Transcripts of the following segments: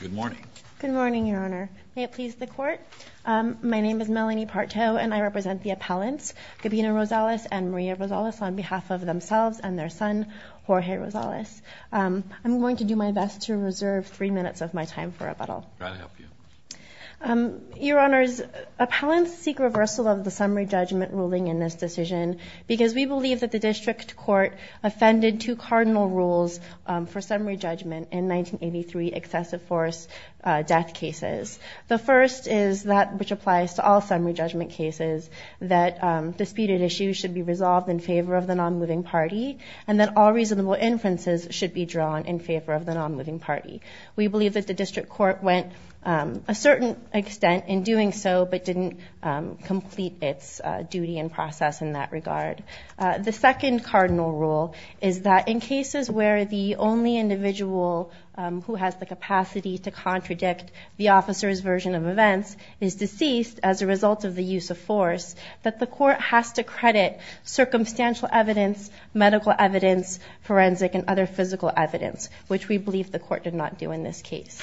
Good morning. Good morning, Your Honor. May it please the court. My name is Melanie Partow, and I represent the appellants, Gabino Rosales and Maria Rosales, on behalf of themselves and their son, Jorge Rosales. I'm going to do my best to reserve three minutes of my time for rebuttal. Your Honors, appellants seek reversal of the summary judgment ruling in this decision because we believe that the district court offended two cardinal rules for summary judgment in 1983 excessive force death cases. The first is that which applies to all summary judgment cases, that disputed issues should be resolved in favor of the non-moving party, and that all reasonable inferences should be drawn in favor of the non-moving party. We believe that the district court went a certain extent in doing so, but didn't complete its duty and process in that regard. The second cardinal rule is that in cases where the only individual who has the capacity to contradict the officer's version of events is deceased as a result of the use of force, that the court has to credit circumstantial evidence, medical evidence, forensic, and other physical evidence, which we believe the court did not do in this case.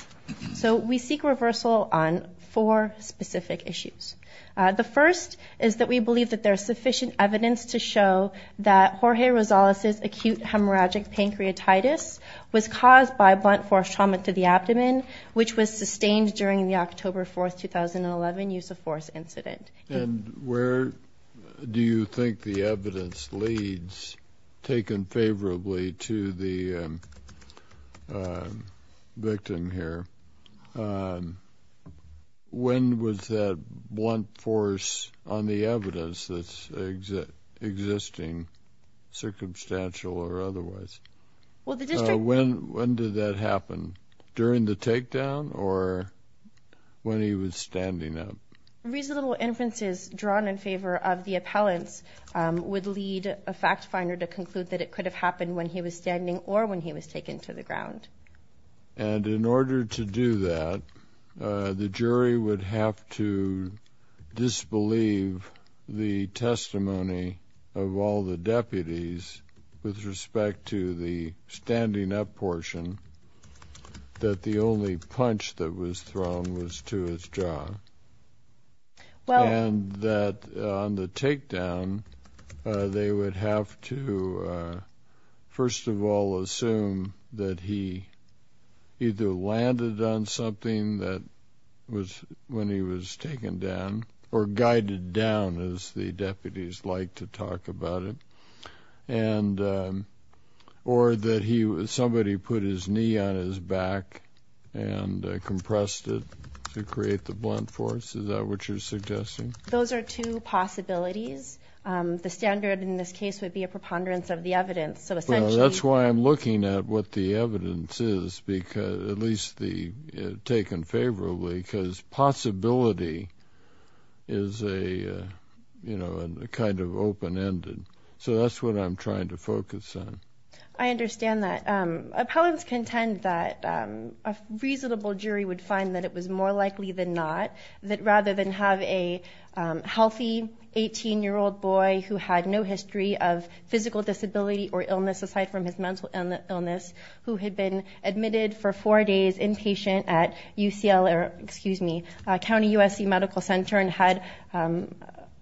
So we seek reversal on four specific issues. The first is that we believe that there is sufficient evidence to show that Jorge Rosales' acute hemorrhagic pancreatitis was caused by blunt force trauma to the abdomen, which was sustained during the October 4, 2011, use of force incident. And where do you think the evidence leads, taken favorably to the victim here? When was that blunt force on the evidence that's existing, circumstantial or otherwise? When did that happen? During the takedown or when he was standing up? Reasonable inferences drawn in favor of the appellants would lead a fact finder to conclude that it could have happened when he was standing or when he was taken to the ground. And in order to do that, the jury would have to disbelieve the testimony of all the deputies with respect to the standing up portion, that the only punch that was thrown was to his jaw. And that on the takedown, they would have to, first of all, assume that he either landed on something that was when he was taken down or guided down, as the deputies like to talk about it. Or that somebody put his knee on his back and compressed it to create the blunt force. Is that what you're suggesting? Those are two possibilities. The standard in this case would be a preponderance of the evidence. That's why I'm looking at what the evidence is, at least taken favorably, because possibility is a kind of open-ended. So that's what I'm trying to focus on. I understand that. Appellants contend that a reasonable jury would find that it was more likely than not, that rather than have a healthy 18-year-old boy who had no history of physical disability or illness aside from his mental illness, who had been admitted for four days inpatient at County USC Medical Center and had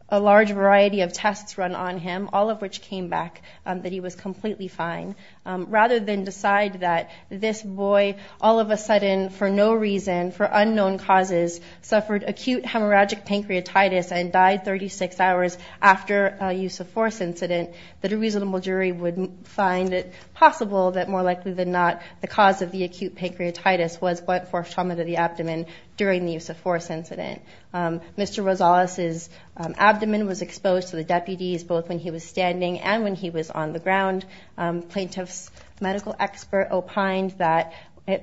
a large variety of tests run on him, all of which came back that he was completely fine. Rather than decide that this boy, all of a sudden, for no reason, for unknown causes, suffered acute hemorrhagic pancreatitis and died 36 hours after a use-of-force incident, that a reasonable jury would find it possible that more likely than not, the cause of the acute pancreatitis was blunt force trauma to the abdomen during the use-of-force incident. Mr. Rosales' abdomen was exposed to the deputies both when he was standing and when he was on the ground. Plaintiff's medical expert opined that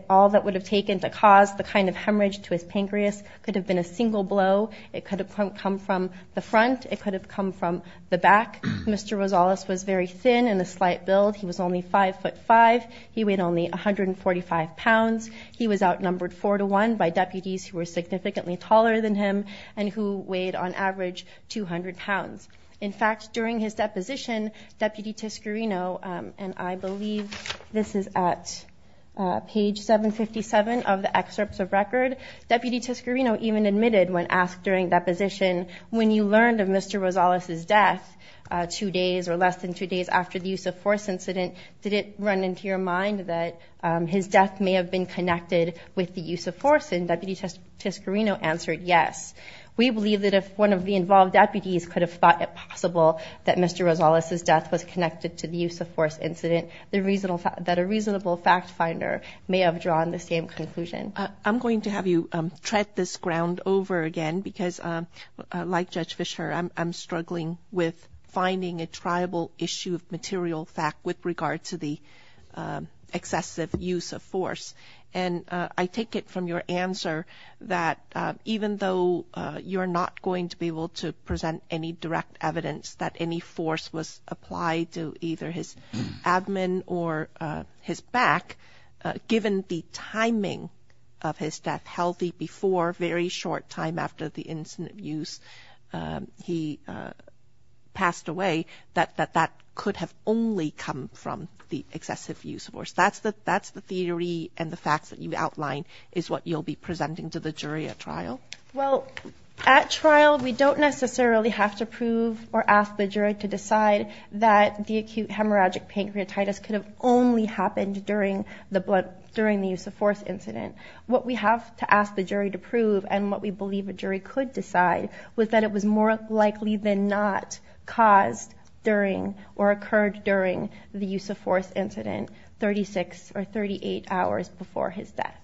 all that would have taken to cause the kind of hemorrhage to his pancreas could have been a single blow. It could have come from the front. It could have come from the back. Mr. Rosales was very thin and a slight build. He was only 5 foot 5. He weighed only 145 pounds. He was outnumbered 4 to 1 by deputies who were significantly taller than him and who weighed, on average, 200 pounds. In fact, during his deposition, Deputy Tiscarino, and I believe this is at page 757 of the excerpts of record, Deputy Tiscarino even admitted when asked during deposition, when you learned of Mr. Rosales' death two days or less than two days after the use-of-force incident, did it run into your mind that his death may have been connected with the use-of-force? And Deputy Tiscarino answered yes. We believe that if one of the involved deputies could have thought it possible that Mr. Rosales' death was connected to the use-of-force incident, that a reasonable fact finder may have drawn the same conclusion. I'm going to have you tread this ground over again because, like Judge Fischer, I'm struggling with finding a triable issue of material fact with regard to the excessive use-of-force. And I take it from your answer that even though you're not going to be able to present any direct evidence that any force was applied to either his admin or his back, given the timing of his death, healthy before, very short time after the incident of use, he passed away, that that could have only come from the excessive use-of-force. That's the theory and the facts that you outlined is what you'll be presenting to the jury at trial? Well, at trial, we don't necessarily have to prove or ask the jury to decide that the acute hemorrhagic pancreatitis could have only happened during the use-of-force incident. What we have to ask the jury to prove and what we believe a jury could decide was that it was more likely than not caused during or occurred during the use-of-force incident 36 or 38 hours before his death.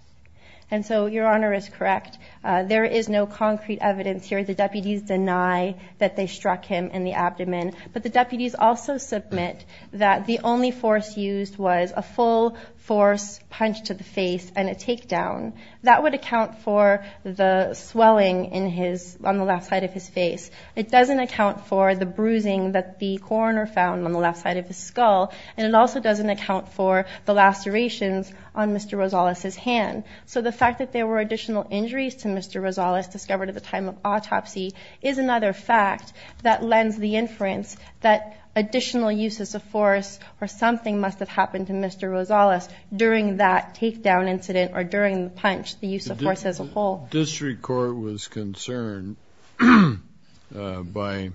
And so, Your Honor is correct. There is no concrete evidence here. The deputies deny that they struck him in the abdomen. But the deputies also submit that the only force used was a full-force punch to the face and a takedown. That would account for the swelling on the left side of his face. It doesn't account for the bruising that the coroner found on the left side of his skull. And it also doesn't account for the lacerations on Mr. Rosales' hand. So the fact that there were additional injuries to Mr. Rosales discovered at the time of autopsy is another fact that lends the inference that additional uses of force or something must have happened to Mr. Rosales during that takedown incident or during the punch, the use-of-force as a whole. The District Court was concerned by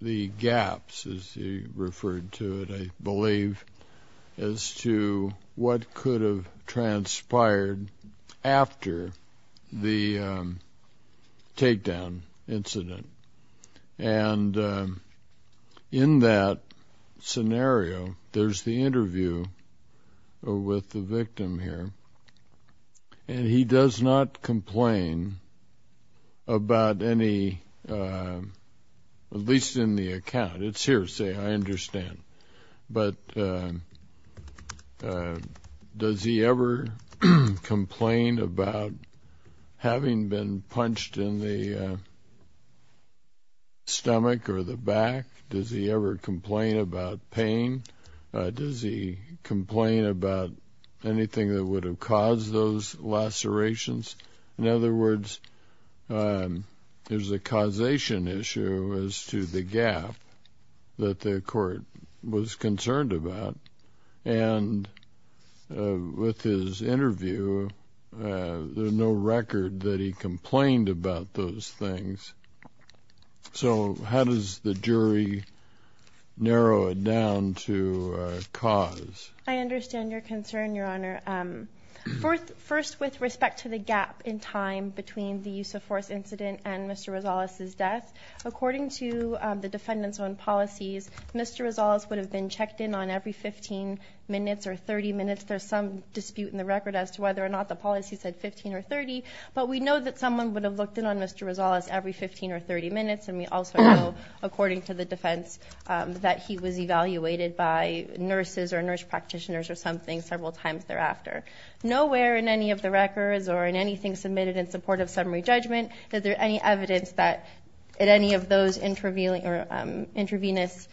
the gaps, as you referred to it, I believe, as to what could have transpired after the takedown incident. And in that scenario, there's the interview with the victim here, and he does not complain about any, at least in the account. It's hearsay, I understand. But does he ever complain about having been punched in the stomach or the back? Does he ever complain about pain? Does he complain about anything that would have caused those lacerations? In other words, there's a causation issue as to the gap that the court was concerned about. And with his interview, there's no record that he complained about those things. So how does the jury narrow it down to a cause? I understand your concern, Your Honor. First, with respect to the gap in time between the use-of-force incident and Mr. Rosales' death. According to the defendant's own policies, Mr. Rosales would have been checked in on every 15 minutes or 30 minutes. There's some dispute in the record as to whether or not the policy said 15 or 30. But we know that someone would have looked in on Mr. Rosales every 15 or 30 minutes. And we also know, according to the defense, that he was evaluated by nurses or nurse practitioners or something several times thereafter. Nowhere in any of the records or in anything submitted in support of summary judgment is there any evidence that at any of those intravenous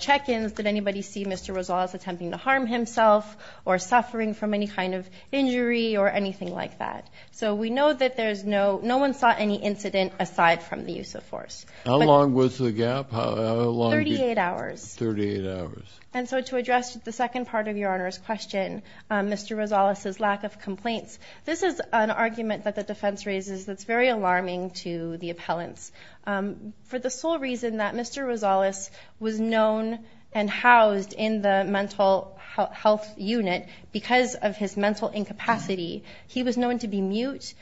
check-ins did anybody see Mr. Rosales attempting to harm himself or suffering from any kind of injury or anything like that. So we know that no one saw any incident aside from the use-of-force. How long was the gap? 38 hours. 38 hours. And so to address the second part of Your Honor's question, Mr. Rosales' lack of complaints, this is an argument that the defense raises that's very alarming to the appellants. For the sole reason that Mr. Rosales was known and housed in the mental health unit because of his mental incapacity, he was known to be mute.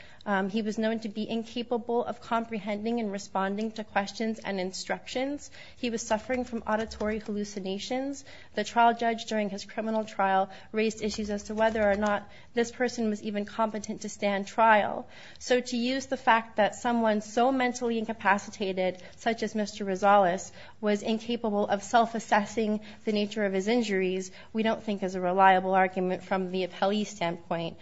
He was known to be incapable of comprehending and responding to questions and instructions. He was suffering from auditory hallucinations. The trial judge during his criminal trial raised issues as to whether or not this person was even competent to stand trial. So to use the fact that someone so mentally incapacitated such as Mr. Rosales was incapable of self-assessing the nature of his injuries, we don't think is a reliable argument from the appellee's standpoint.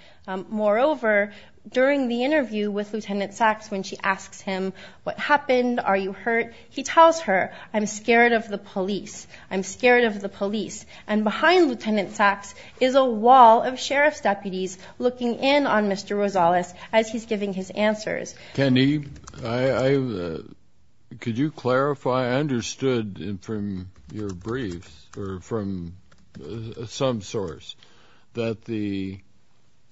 Moreover, during the interview with Lieutenant Sachs when she asks him, what happened? Are you hurt? He tells her, I'm scared of the police. I'm scared of the police. And behind Lieutenant Sachs is a wall of sheriff's deputies looking in on Mr. Rosales as he's giving his answers. Can you clarify? I understood from your briefs or from some source that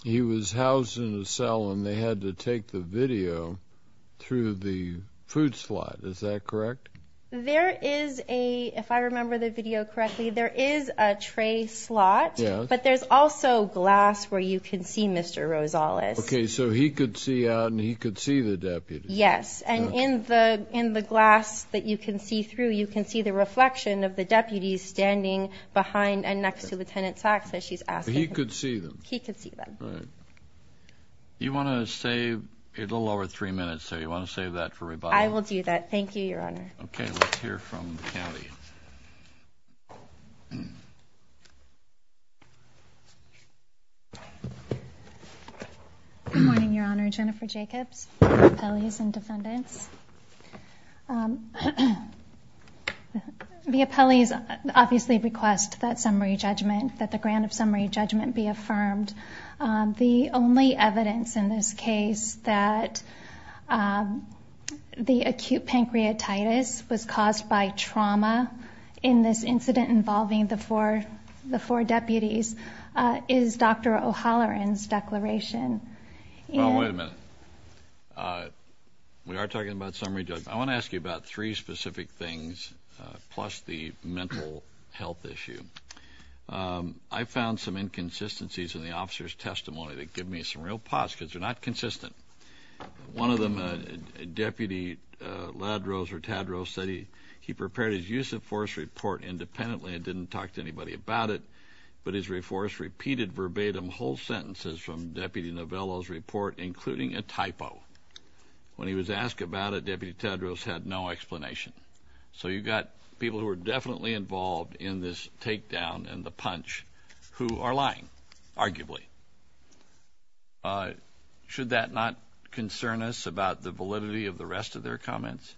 he was housed in a cell and they had to take the video through the food slot. Is that correct? There is a, if I remember the video correctly, there is a tray slot, but there's also glass where you can see Mr. Rosales. Okay, so he could see out and he could see the deputies. Yes. And in the glass that you can see through, you can see the reflection of the deputies standing behind and next to Lieutenant Sachs as she's asking him. He could see them. He could see them. Right. You want to save a little over three minutes there? You want to save that for rebuttal? I will do that. Thank you, Your Honor. Okay. Let's hear from the county. Good morning, Your Honor. Jennifer Jacobs, appellees and defendants. The appellees obviously request that summary judgment, that the grant of summary judgment be affirmed. The only evidence in this case that the acute pancreatitis was caused by trauma in this incident involving the four deputies is Dr. O'Halloran's declaration. Well, wait a minute. We are talking about summary judgment. I want to ask you about three specific things plus the mental health issue. I found some inconsistencies in the officers' testimony that give me some real pause because they're not consistent. One of them, Deputy Ladros or Tadros, said he prepared his use of force report independently and didn't talk to anybody about it, but his force repeated verbatim whole sentences from Deputy Novello's report, including a typo. When he was asked about it, Deputy Tadros had no explanation. So you've got people who are definitely involved in this takedown and the punch who are lying, arguably. Should that not concern us about the validity of the rest of their comments?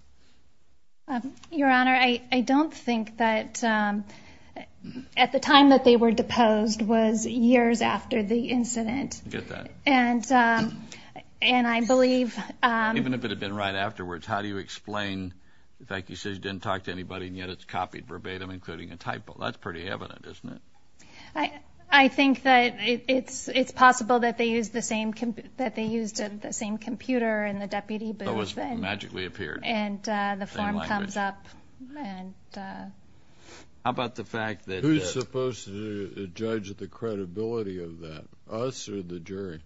Your Honor, I don't think that at the time that they were deposed was years after the incident. I get that. Even if it had been right afterwards, how do you explain the fact that he says he didn't talk to anybody, and yet it's copied verbatim, including a typo? That's pretty evident, isn't it? I think that it's possible that they used the same computer in the deputy booth. It magically appeared. And the form comes up. How about the fact that— Who's supposed to judge the credibility of that, us or the jury?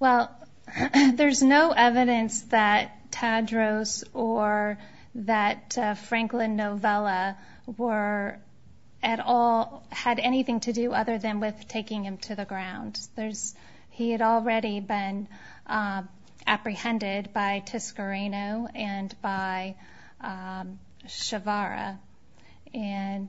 Well, there's no evidence that Tadros or that Franklin Novello had anything to do other than with taking him to the ground. He had already been apprehended by Tiscarino and by Shavara. And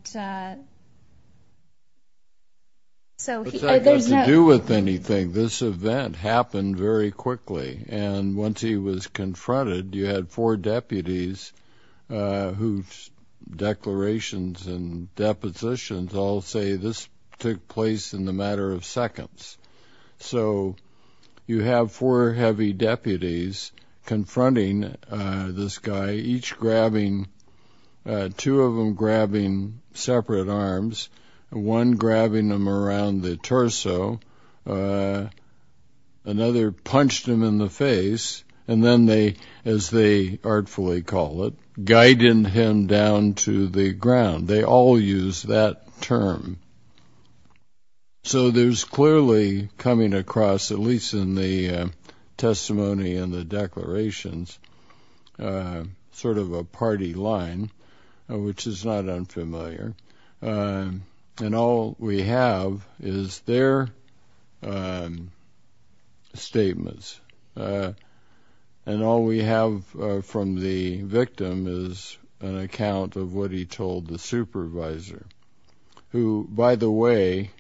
so he— What's that got to do with anything? This event happened very quickly, and once he was confronted, you had four deputies whose declarations and depositions all say this took place in a matter of seconds. So you have four heavy deputies confronting this guy, each grabbing—two of them grabbing separate arms, one grabbing him around the torso, another punched him in the face, and then they, as they artfully call it, guided him down to the ground. They all use that term. So there's clearly coming across, at least in the testimony and the declarations, sort of a party line, which is not unfamiliar. And all we have is their statements. And all we have from the victim is an account of what he told the supervisor, who, by the way,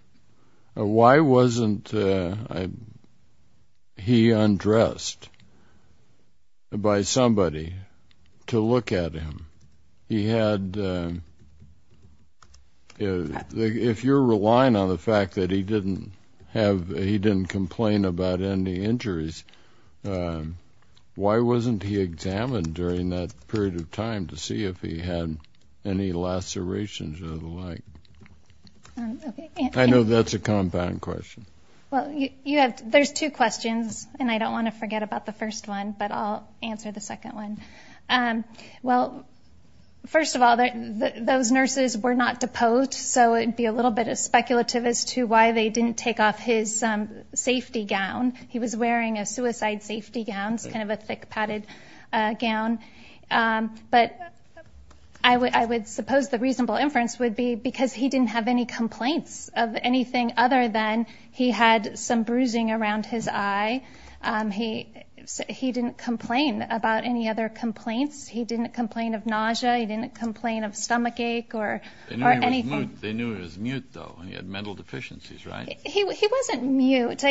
why wasn't he undressed by somebody to look at him? If you're relying on the fact that he didn't complain about any injuries, why wasn't he examined during that period of time to see if he had any lacerations or the like? I know that's a compound question. There's two questions, and I don't want to forget about the first one, but I'll answer the second one. Well, first of all, those nurses were not deposed, so it would be a little bit speculative as to why they didn't take off his safety gown. He was wearing a suicide safety gown. It's kind of a thick padded gown. But I would suppose the reasonable inference would be because he didn't have any complaints of anything other than he had some bruising around his eye. He didn't complain about any other complaints. He didn't complain of nausea. He didn't complain of stomachache or anything. They knew he was mute, though, and he had mental deficiencies, right? He wasn't mute.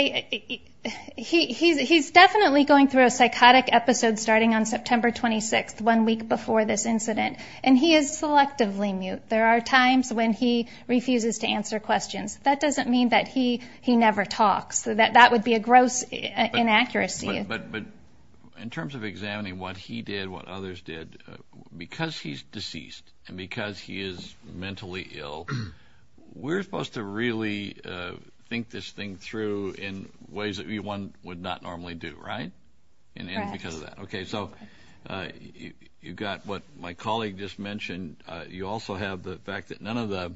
He's definitely going through a psychotic episode starting on September 26th, one week before this incident, and he is selectively mute. There are times when he refuses to answer questions. That doesn't mean that he never talks. So that would be a gross inaccuracy. But in terms of examining what he did, what others did, because he's deceased and because he is mentally ill, we're supposed to really think this thing through in ways that one would not normally do, right? Right. Because of that. Okay, so you've got what my colleague just mentioned. You also have the fact that none of the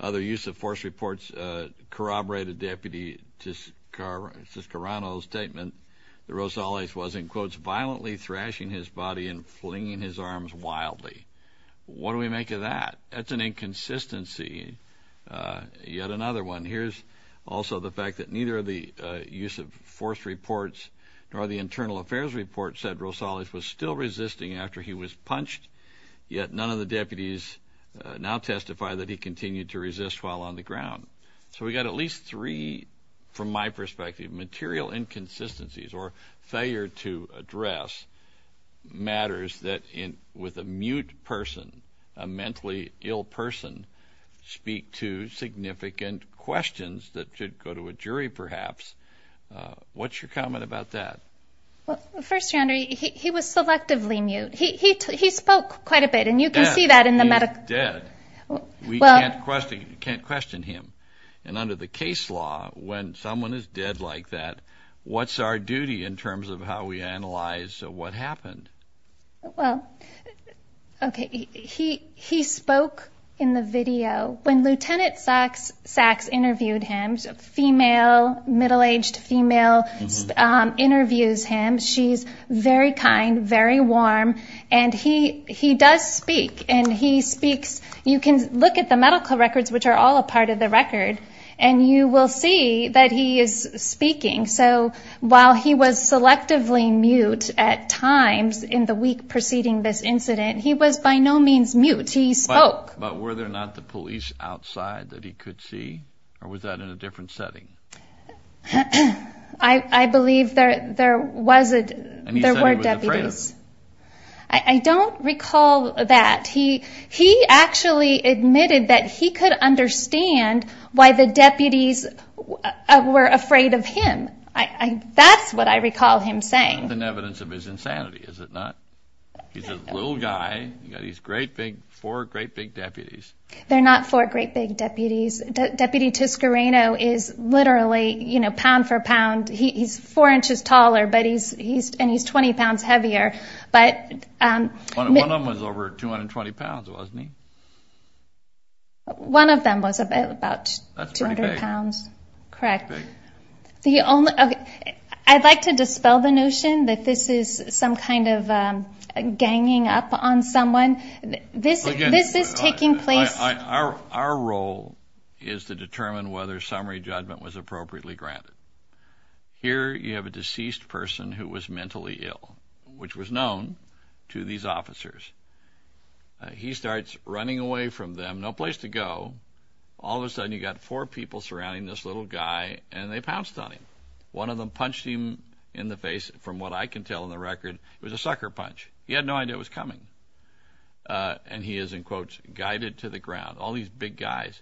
other use-of-force reports corroborated Deputy Siscarano's statement that Rosales was, in quotes, violently thrashing his body and flinging his arms wildly. What do we make of that? That's an inconsistency. Yet another one. Here's also the fact that neither the use-of-force reports nor the internal affairs report said yet none of the deputies now testify that he continued to resist while on the ground. So we've got at least three, from my perspective, material inconsistencies or failure to address matters that, with a mute person, a mentally ill person, speak to significant questions that should go to a jury, perhaps. What's your comment about that? Well, first, John, he was selectively mute. He spoke quite a bit, and you can see that in the medical. He's dead. We can't question him. And under the case law, when someone is dead like that, what's our duty in terms of how we analyze what happened? Well, okay, he spoke in the video. When Lieutenant Sacks interviewed him, a female, middle-aged female, interviews him. She's very kind, very warm, and he does speak, and he speaks. You can look at the medical records, which are all a part of the record, and you will see that he is speaking. So while he was selectively mute at times in the week preceding this incident, he was by no means mute. He spoke. But were there not the police outside that he could see, or was that in a different setting? I believe there were deputies. And he said he was afraid of them. I don't recall that. He actually admitted that he could understand why the deputies were afraid of him. That's what I recall him saying. That's an evidence of his insanity, is it not? He's a little guy. You've got these great big, four great big deputies. They're not four great big deputies. Deputy Toscareno is literally, you know, pound for pound. He's four inches taller, and he's 20 pounds heavier. One of them was over 220 pounds, wasn't he? One of them was about 200 pounds. That's pretty big. Correct. That's big. I'd like to dispel the notion that this is some kind of ganging up on someone. This is taking place. Our role is to determine whether summary judgment was appropriately granted. Here you have a deceased person who was mentally ill, which was known to these officers. He starts running away from them, no place to go. All of a sudden you've got four people surrounding this little guy, and they pounced on him. One of them punched him in the face. From what I can tell on the record, it was a sucker punch. He had no idea it was coming. And he is, in quotes, guided to the ground. All these big guys.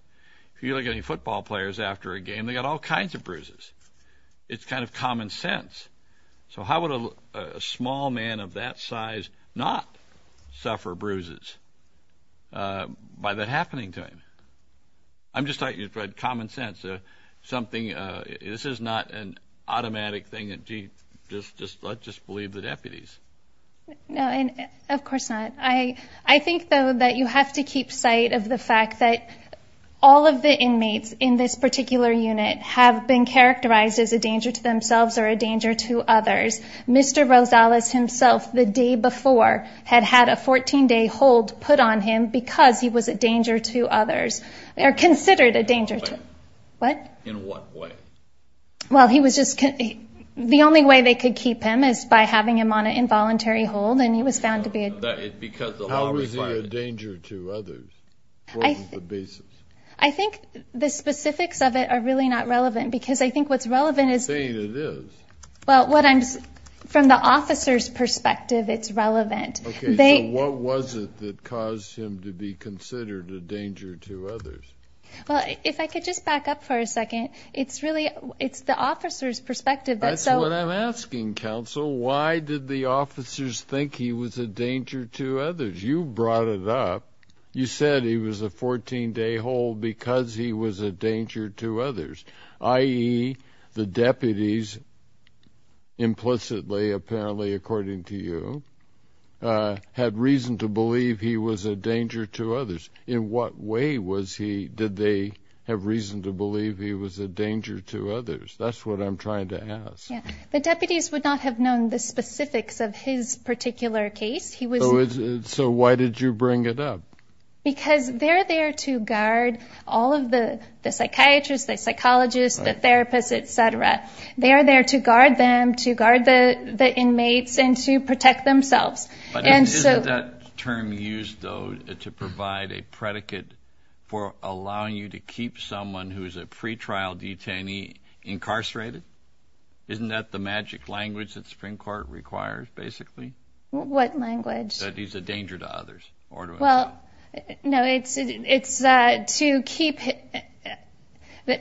If you look at any football players after a game, they've got all kinds of bruises. It's kind of common sense. So how would a small man of that size not suffer bruises by that happening to him? I'm just talking about common sense. This is not an automatic thing that, gee, let's just believe the deputies. No, of course not. I think, though, that you have to keep sight of the fact that all of the inmates in this particular unit have been characterized as a danger to themselves or a danger to others. Mr. Rosales himself, the day before, had had a 14-day hold put on him because he was a danger to others. They are considered a danger to others. What? In what way? Well, he was just, the only way they could keep him is by having him on an involuntary hold, and he was found to be a danger to others. What was the basis? I think the specifics of it are really not relevant because I think what's relevant is... You're saying it is. Well, from the officer's perspective, it's relevant. Okay, so what was it that caused him to be considered a danger to others? Well, if I could just back up for a second, it's really the officer's perspective that... That's what I'm asking, counsel. Why did the officers think he was a danger to others? You brought it up. You said he was a 14-day hold because he was a danger to others, i.e., the deputies, implicitly, apparently, according to you, had reason to believe he was a danger to others. In what way did they have reason to believe he was a danger to others? That's what I'm trying to ask. The deputies would not have known the specifics of his particular case. So why did you bring it up? Because they're there to guard all of the psychiatrists, the psychologists, the therapists, et cetera. They are there to guard them, to guard the inmates, and to protect themselves. Isn't that term used, though, to provide a predicate for allowing you to keep someone who is a pretrial detainee incarcerated? Isn't that the magic language that the Supreme Court requires, basically? What language? That he's a danger to others. Well, no, it's to keep...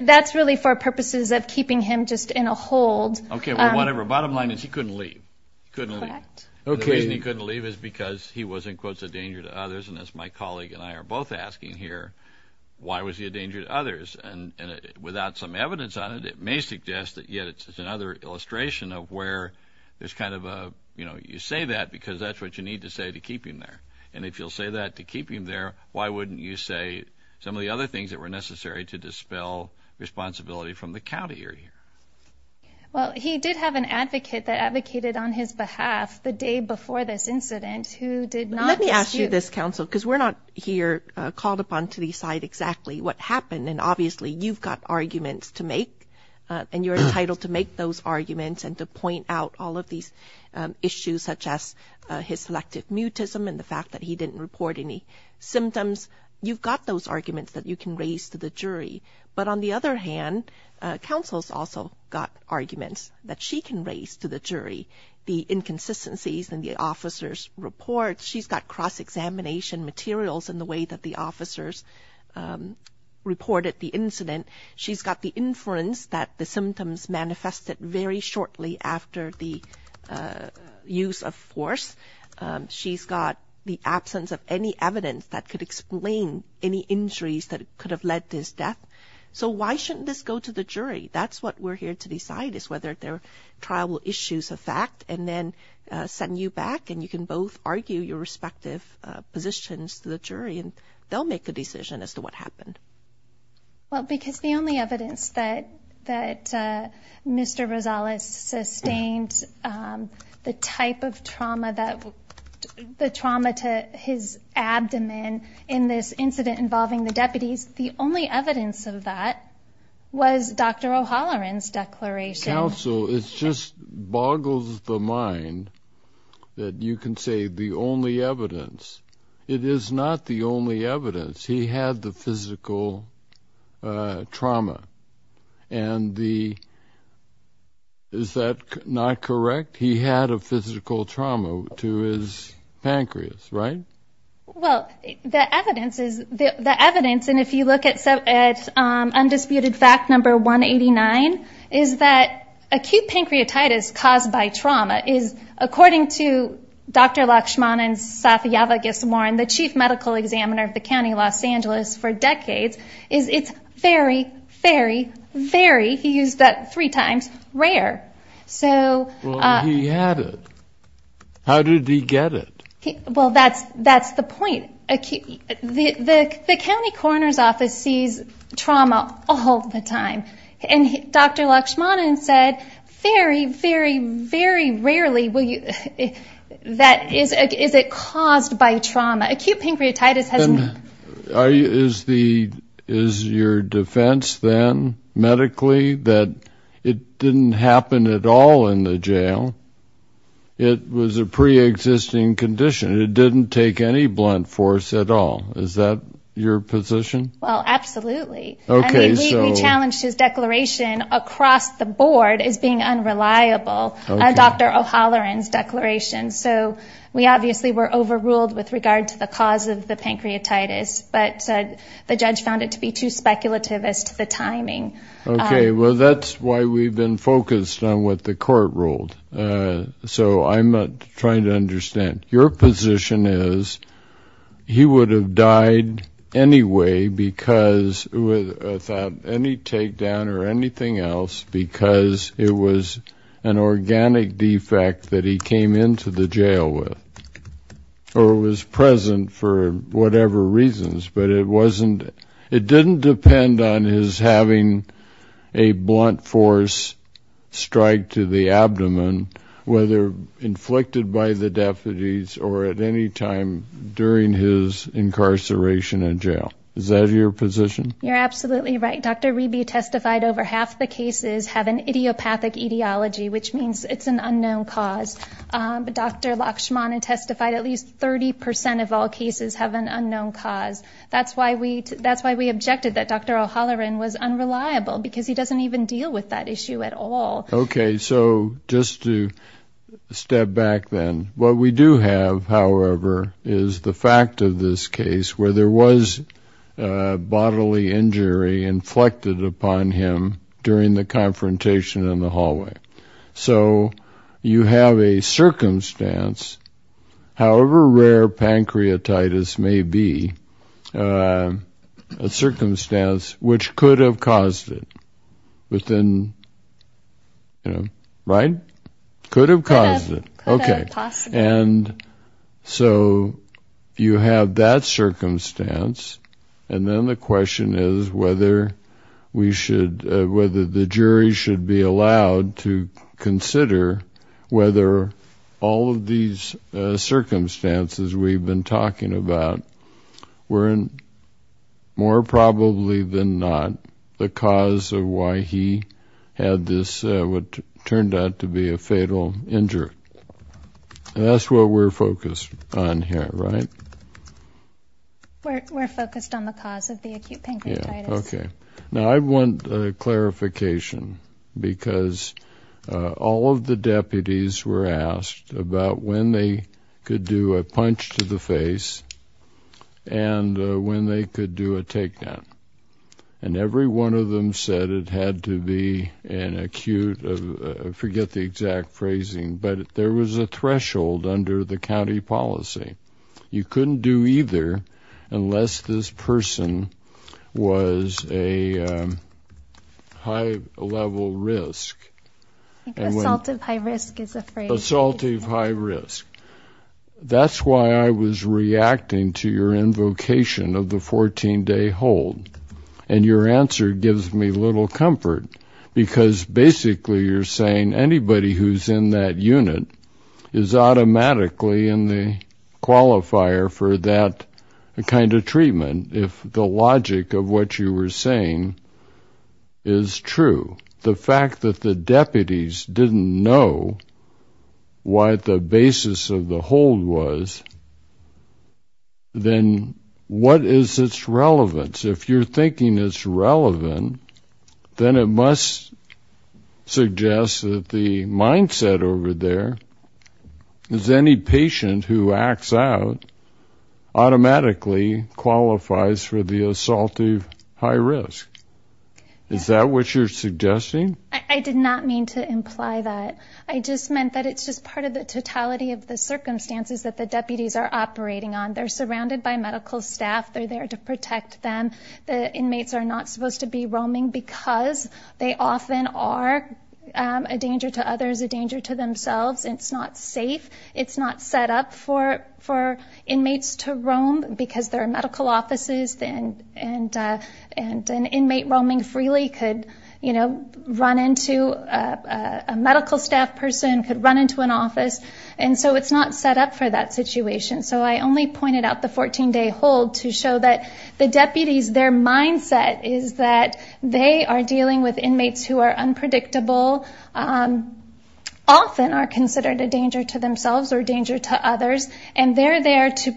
That's really for purposes of keeping him just in a hold. Okay, well, whatever. Bottom line is he couldn't leave. He couldn't leave. Correct. The reason he couldn't leave is because he was, in quotes, a danger to others. And as my colleague and I are both asking here, why was he a danger to others? And without some evidence on it, it may suggest that yet it's another illustration of where there's kind of a, you know, you say that because that's what you need to say to keep him there. And if you'll say that to keep him there, why wouldn't you say some of the other things that were necessary to dispel responsibility from the county you're here? Well, he did have an advocate that advocated on his behalf the day before this incident who did not... Let me ask you this, counsel, because we're not here called upon to decide exactly what happened. And obviously you've got arguments to make, and you're entitled to make those arguments and to point out all of these issues such as his selective mutism and the fact that he didn't report any symptoms. You've got those arguments that you can raise to the jury. But on the other hand, counsel's also got arguments that she can raise to the jury, the inconsistencies in the officer's report. She's got cross-examination materials in the way that the officers reported the incident. She's got the inference that the symptoms manifested very shortly after the use of force. She's got the absence of any evidence that could explain any injuries that could have led to his death. So why shouldn't this go to the jury? That's what we're here to decide is whether their trial will issue a fact and then send you back. And you can both argue your respective positions to the jury, and they'll make a decision as to what happened. Well, because the only evidence that Mr. Rosales sustained the type of trauma that the trauma to his abdomen in this incident involving the deputies, the only evidence of that was Dr. O'Halloran's declaration. Counsel, it just boggles the mind that you can say the only evidence. It is not the only evidence. He had the physical trauma. And the – is that not correct? He had a physical trauma to his pancreas, right? Well, the evidence is – the evidence, and if you look at undisputed fact number 189, is that acute pancreatitis caused by trauma is, according to Dr. Laxman and Safiyava Giswaran, the chief medical examiner of the county of Los Angeles for decades, is it's very, very, very – he used that three times – rare. Well, he had it. How did he get it? Well, that's the point. The county coroner's office sees trauma all the time. And Dr. Laxmanan said, very, very, very rarely will you – that is it caused by trauma. Acute pancreatitis has – Is the – is your defense then medically that it didn't happen at all in the jail? It was a preexisting condition. It didn't take any blunt force at all. Is that your position? Well, absolutely. And we challenged his declaration across the board as being unreliable, Dr. O'Halloran's declaration. So we obviously were overruled with regard to the cause of the pancreatitis, but the judge found it to be too speculative as to the timing. Okay. Well, that's why we've been focused on what the court ruled. So I'm trying to understand. Your position is he would have died anyway because – without any takedown or anything else because it was an organic defect that he came into the jail with or was present for whatever reasons, but it wasn't – it didn't depend on his having a blunt force strike to the abdomen, whether inflicted by the deputies or at any time during his incarceration in jail. Is that your position? You're absolutely right. Dr. Reby testified over half the cases have an idiopathic etiology, which means it's an unknown cause. Dr. Lakshmana testified at least 30 percent of all cases have an unknown cause. That's why we – that's why we objected that Dr. O'Halloran was unreliable because he doesn't even deal with that issue at all. Okay. So just to step back then, what we do have, however, is the fact of this case where there was bodily injury inflected upon him during the confrontation in the hallway. So you have a circumstance, however rare pancreatitis may be, a circumstance which could have caused it within – right? Could have caused it. Could have possibly. Okay. And so you have that circumstance, and then the question is whether we should – whether the jury should be allowed to consider whether all of these circumstances we've been talking about were more probably than not the cause of why he had this what turned out to be a fatal injury. And that's what we're focused on here, right? We're focused on the cause of the acute pancreatitis. Yeah, okay. Now, I want clarification because all of the deputies were asked about when they could do a punch to the face and when they could do a takedown. And every one of them said it had to be an acute – forget the exact phrasing, but there was a threshold under the county policy. You couldn't do either unless this person was a high-level risk. I think assaultive high risk is a phrase. Assaultive high risk. That's why I was reacting to your invocation of the 14-day hold, and your answer gives me little comfort because basically you're saying anybody who's in that unit is automatically in the qualifier for that kind of treatment if the logic of what you were saying is true. The fact that the deputies didn't know what the basis of the hold was, then what is its relevance? If you're thinking it's relevant, then it must suggest that the mindset over there is any patient who acts out automatically qualifies for the assaultive high risk. Is that what you're suggesting? I did not mean to imply that. I just meant that it's just part of the totality of the circumstances that the deputies are operating on. They're surrounded by medical staff. They're there to protect them. The inmates are not supposed to be roaming because they often are a danger to others, a danger to themselves. It's not safe. It's not set up for inmates to roam because there are medical offices, and an inmate roaming freely could run into a medical staff person, could run into an office, and so it's not set up for that situation. So I only pointed out the 14-day hold to show that the deputies, their mindset is that they are dealing with inmates who are unpredictable, often are considered a danger to themselves or a danger to others, and they're there to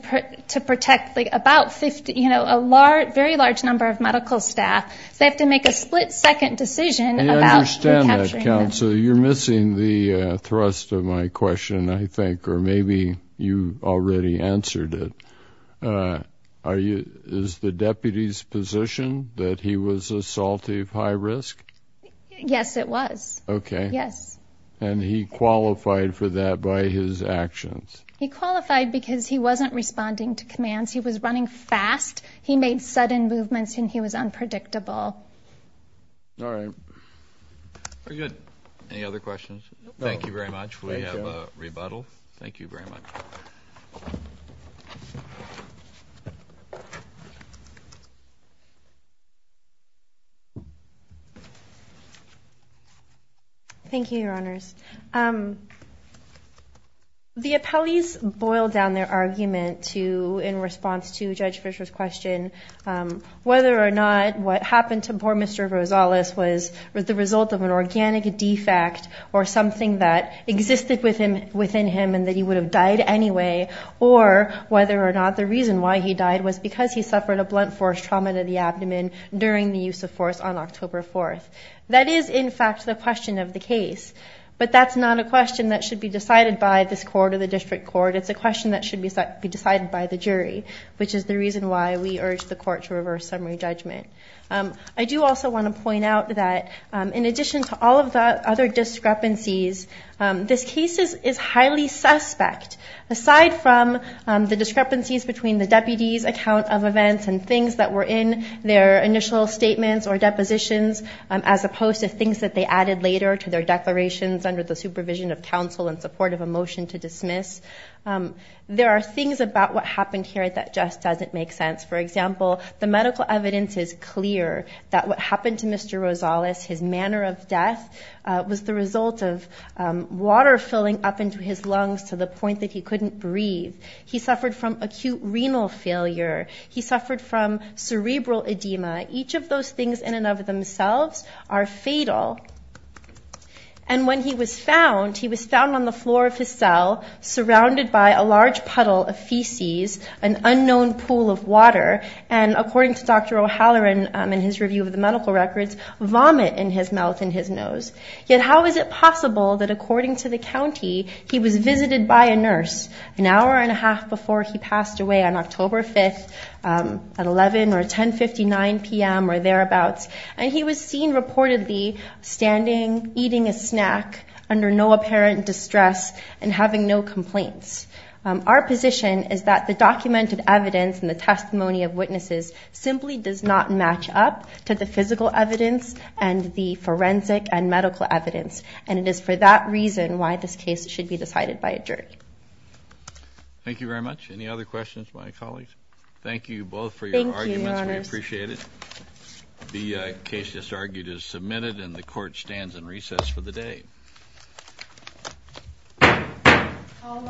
protect a very large number of medical staff. So they have to make a split-second decision about recapturing them. I understand that, counsel. You're missing the thrust of my question, I think, or maybe you already answered it. Is the deputy's position that he was assaultive high risk? Yes, it was. Okay. Yes. And he qualified for that by his actions? He qualified because he wasn't responding to commands. He was running fast. He made sudden movements, and he was unpredictable. All right. Very good. Any other questions? Thank you very much. We have a rebuttal. Thank you very much. Thank you, Your Honors. The appellees boiled down their argument to, in response to Judge Fisher's question, whether or not what happened to poor Mr. Rosales was the result of an organic defect or something that existed within him and that he would have died anyway, or whether or not the reason why he died was because he suffered a blunt force trauma to the abdomen during the use of force on October 4th. That is, in fact, the question of the case. But that's not a question that should be decided by this court or the district court. It's a question that should be decided by the jury, which is the reason why we urge the court to reverse summary judgment. I do also want to point out that, in addition to all of the other discrepancies, this case is highly suspect. Aside from the discrepancies between the deputy's account of events and things that were in their initial statements or depositions, as opposed to things that they added later to their declarations under the supervision of counsel in support of a motion to dismiss, there are things about what happened here that just doesn't make sense. For example, the medical evidence is clear that what happened to Mr. Rosales, his manner of death, was the result of water filling up into his lungs to the point that he couldn't breathe. He suffered from acute renal failure. He suffered from cerebral edema. Each of those things in and of themselves are fatal. And when he was found, he was found on the floor of his cell, surrounded by a large puddle of feces, an unknown pool of water, and according to Dr. O'Halloran in his review of the medical records, vomit in his mouth and his nose. Yet how is it possible that, according to the county, he was visited by a nurse an hour and a half before he passed away, on October 5th at 11 or 10.59 p.m. or thereabouts, and he was seen reportedly standing, eating a snack, under no apparent distress and having no complaints? Our position is that the documented evidence and the testimony of witnesses simply does not match up to the physical evidence and the forensic and medical evidence, and it is for that reason why this case should be decided by a jury. Thank you very much. Any other questions, my colleagues? Thank you both for your arguments. Thank you, Your Honors. We appreciate it. The case just argued is submitted, and the Court stands in recess for the day. All rise.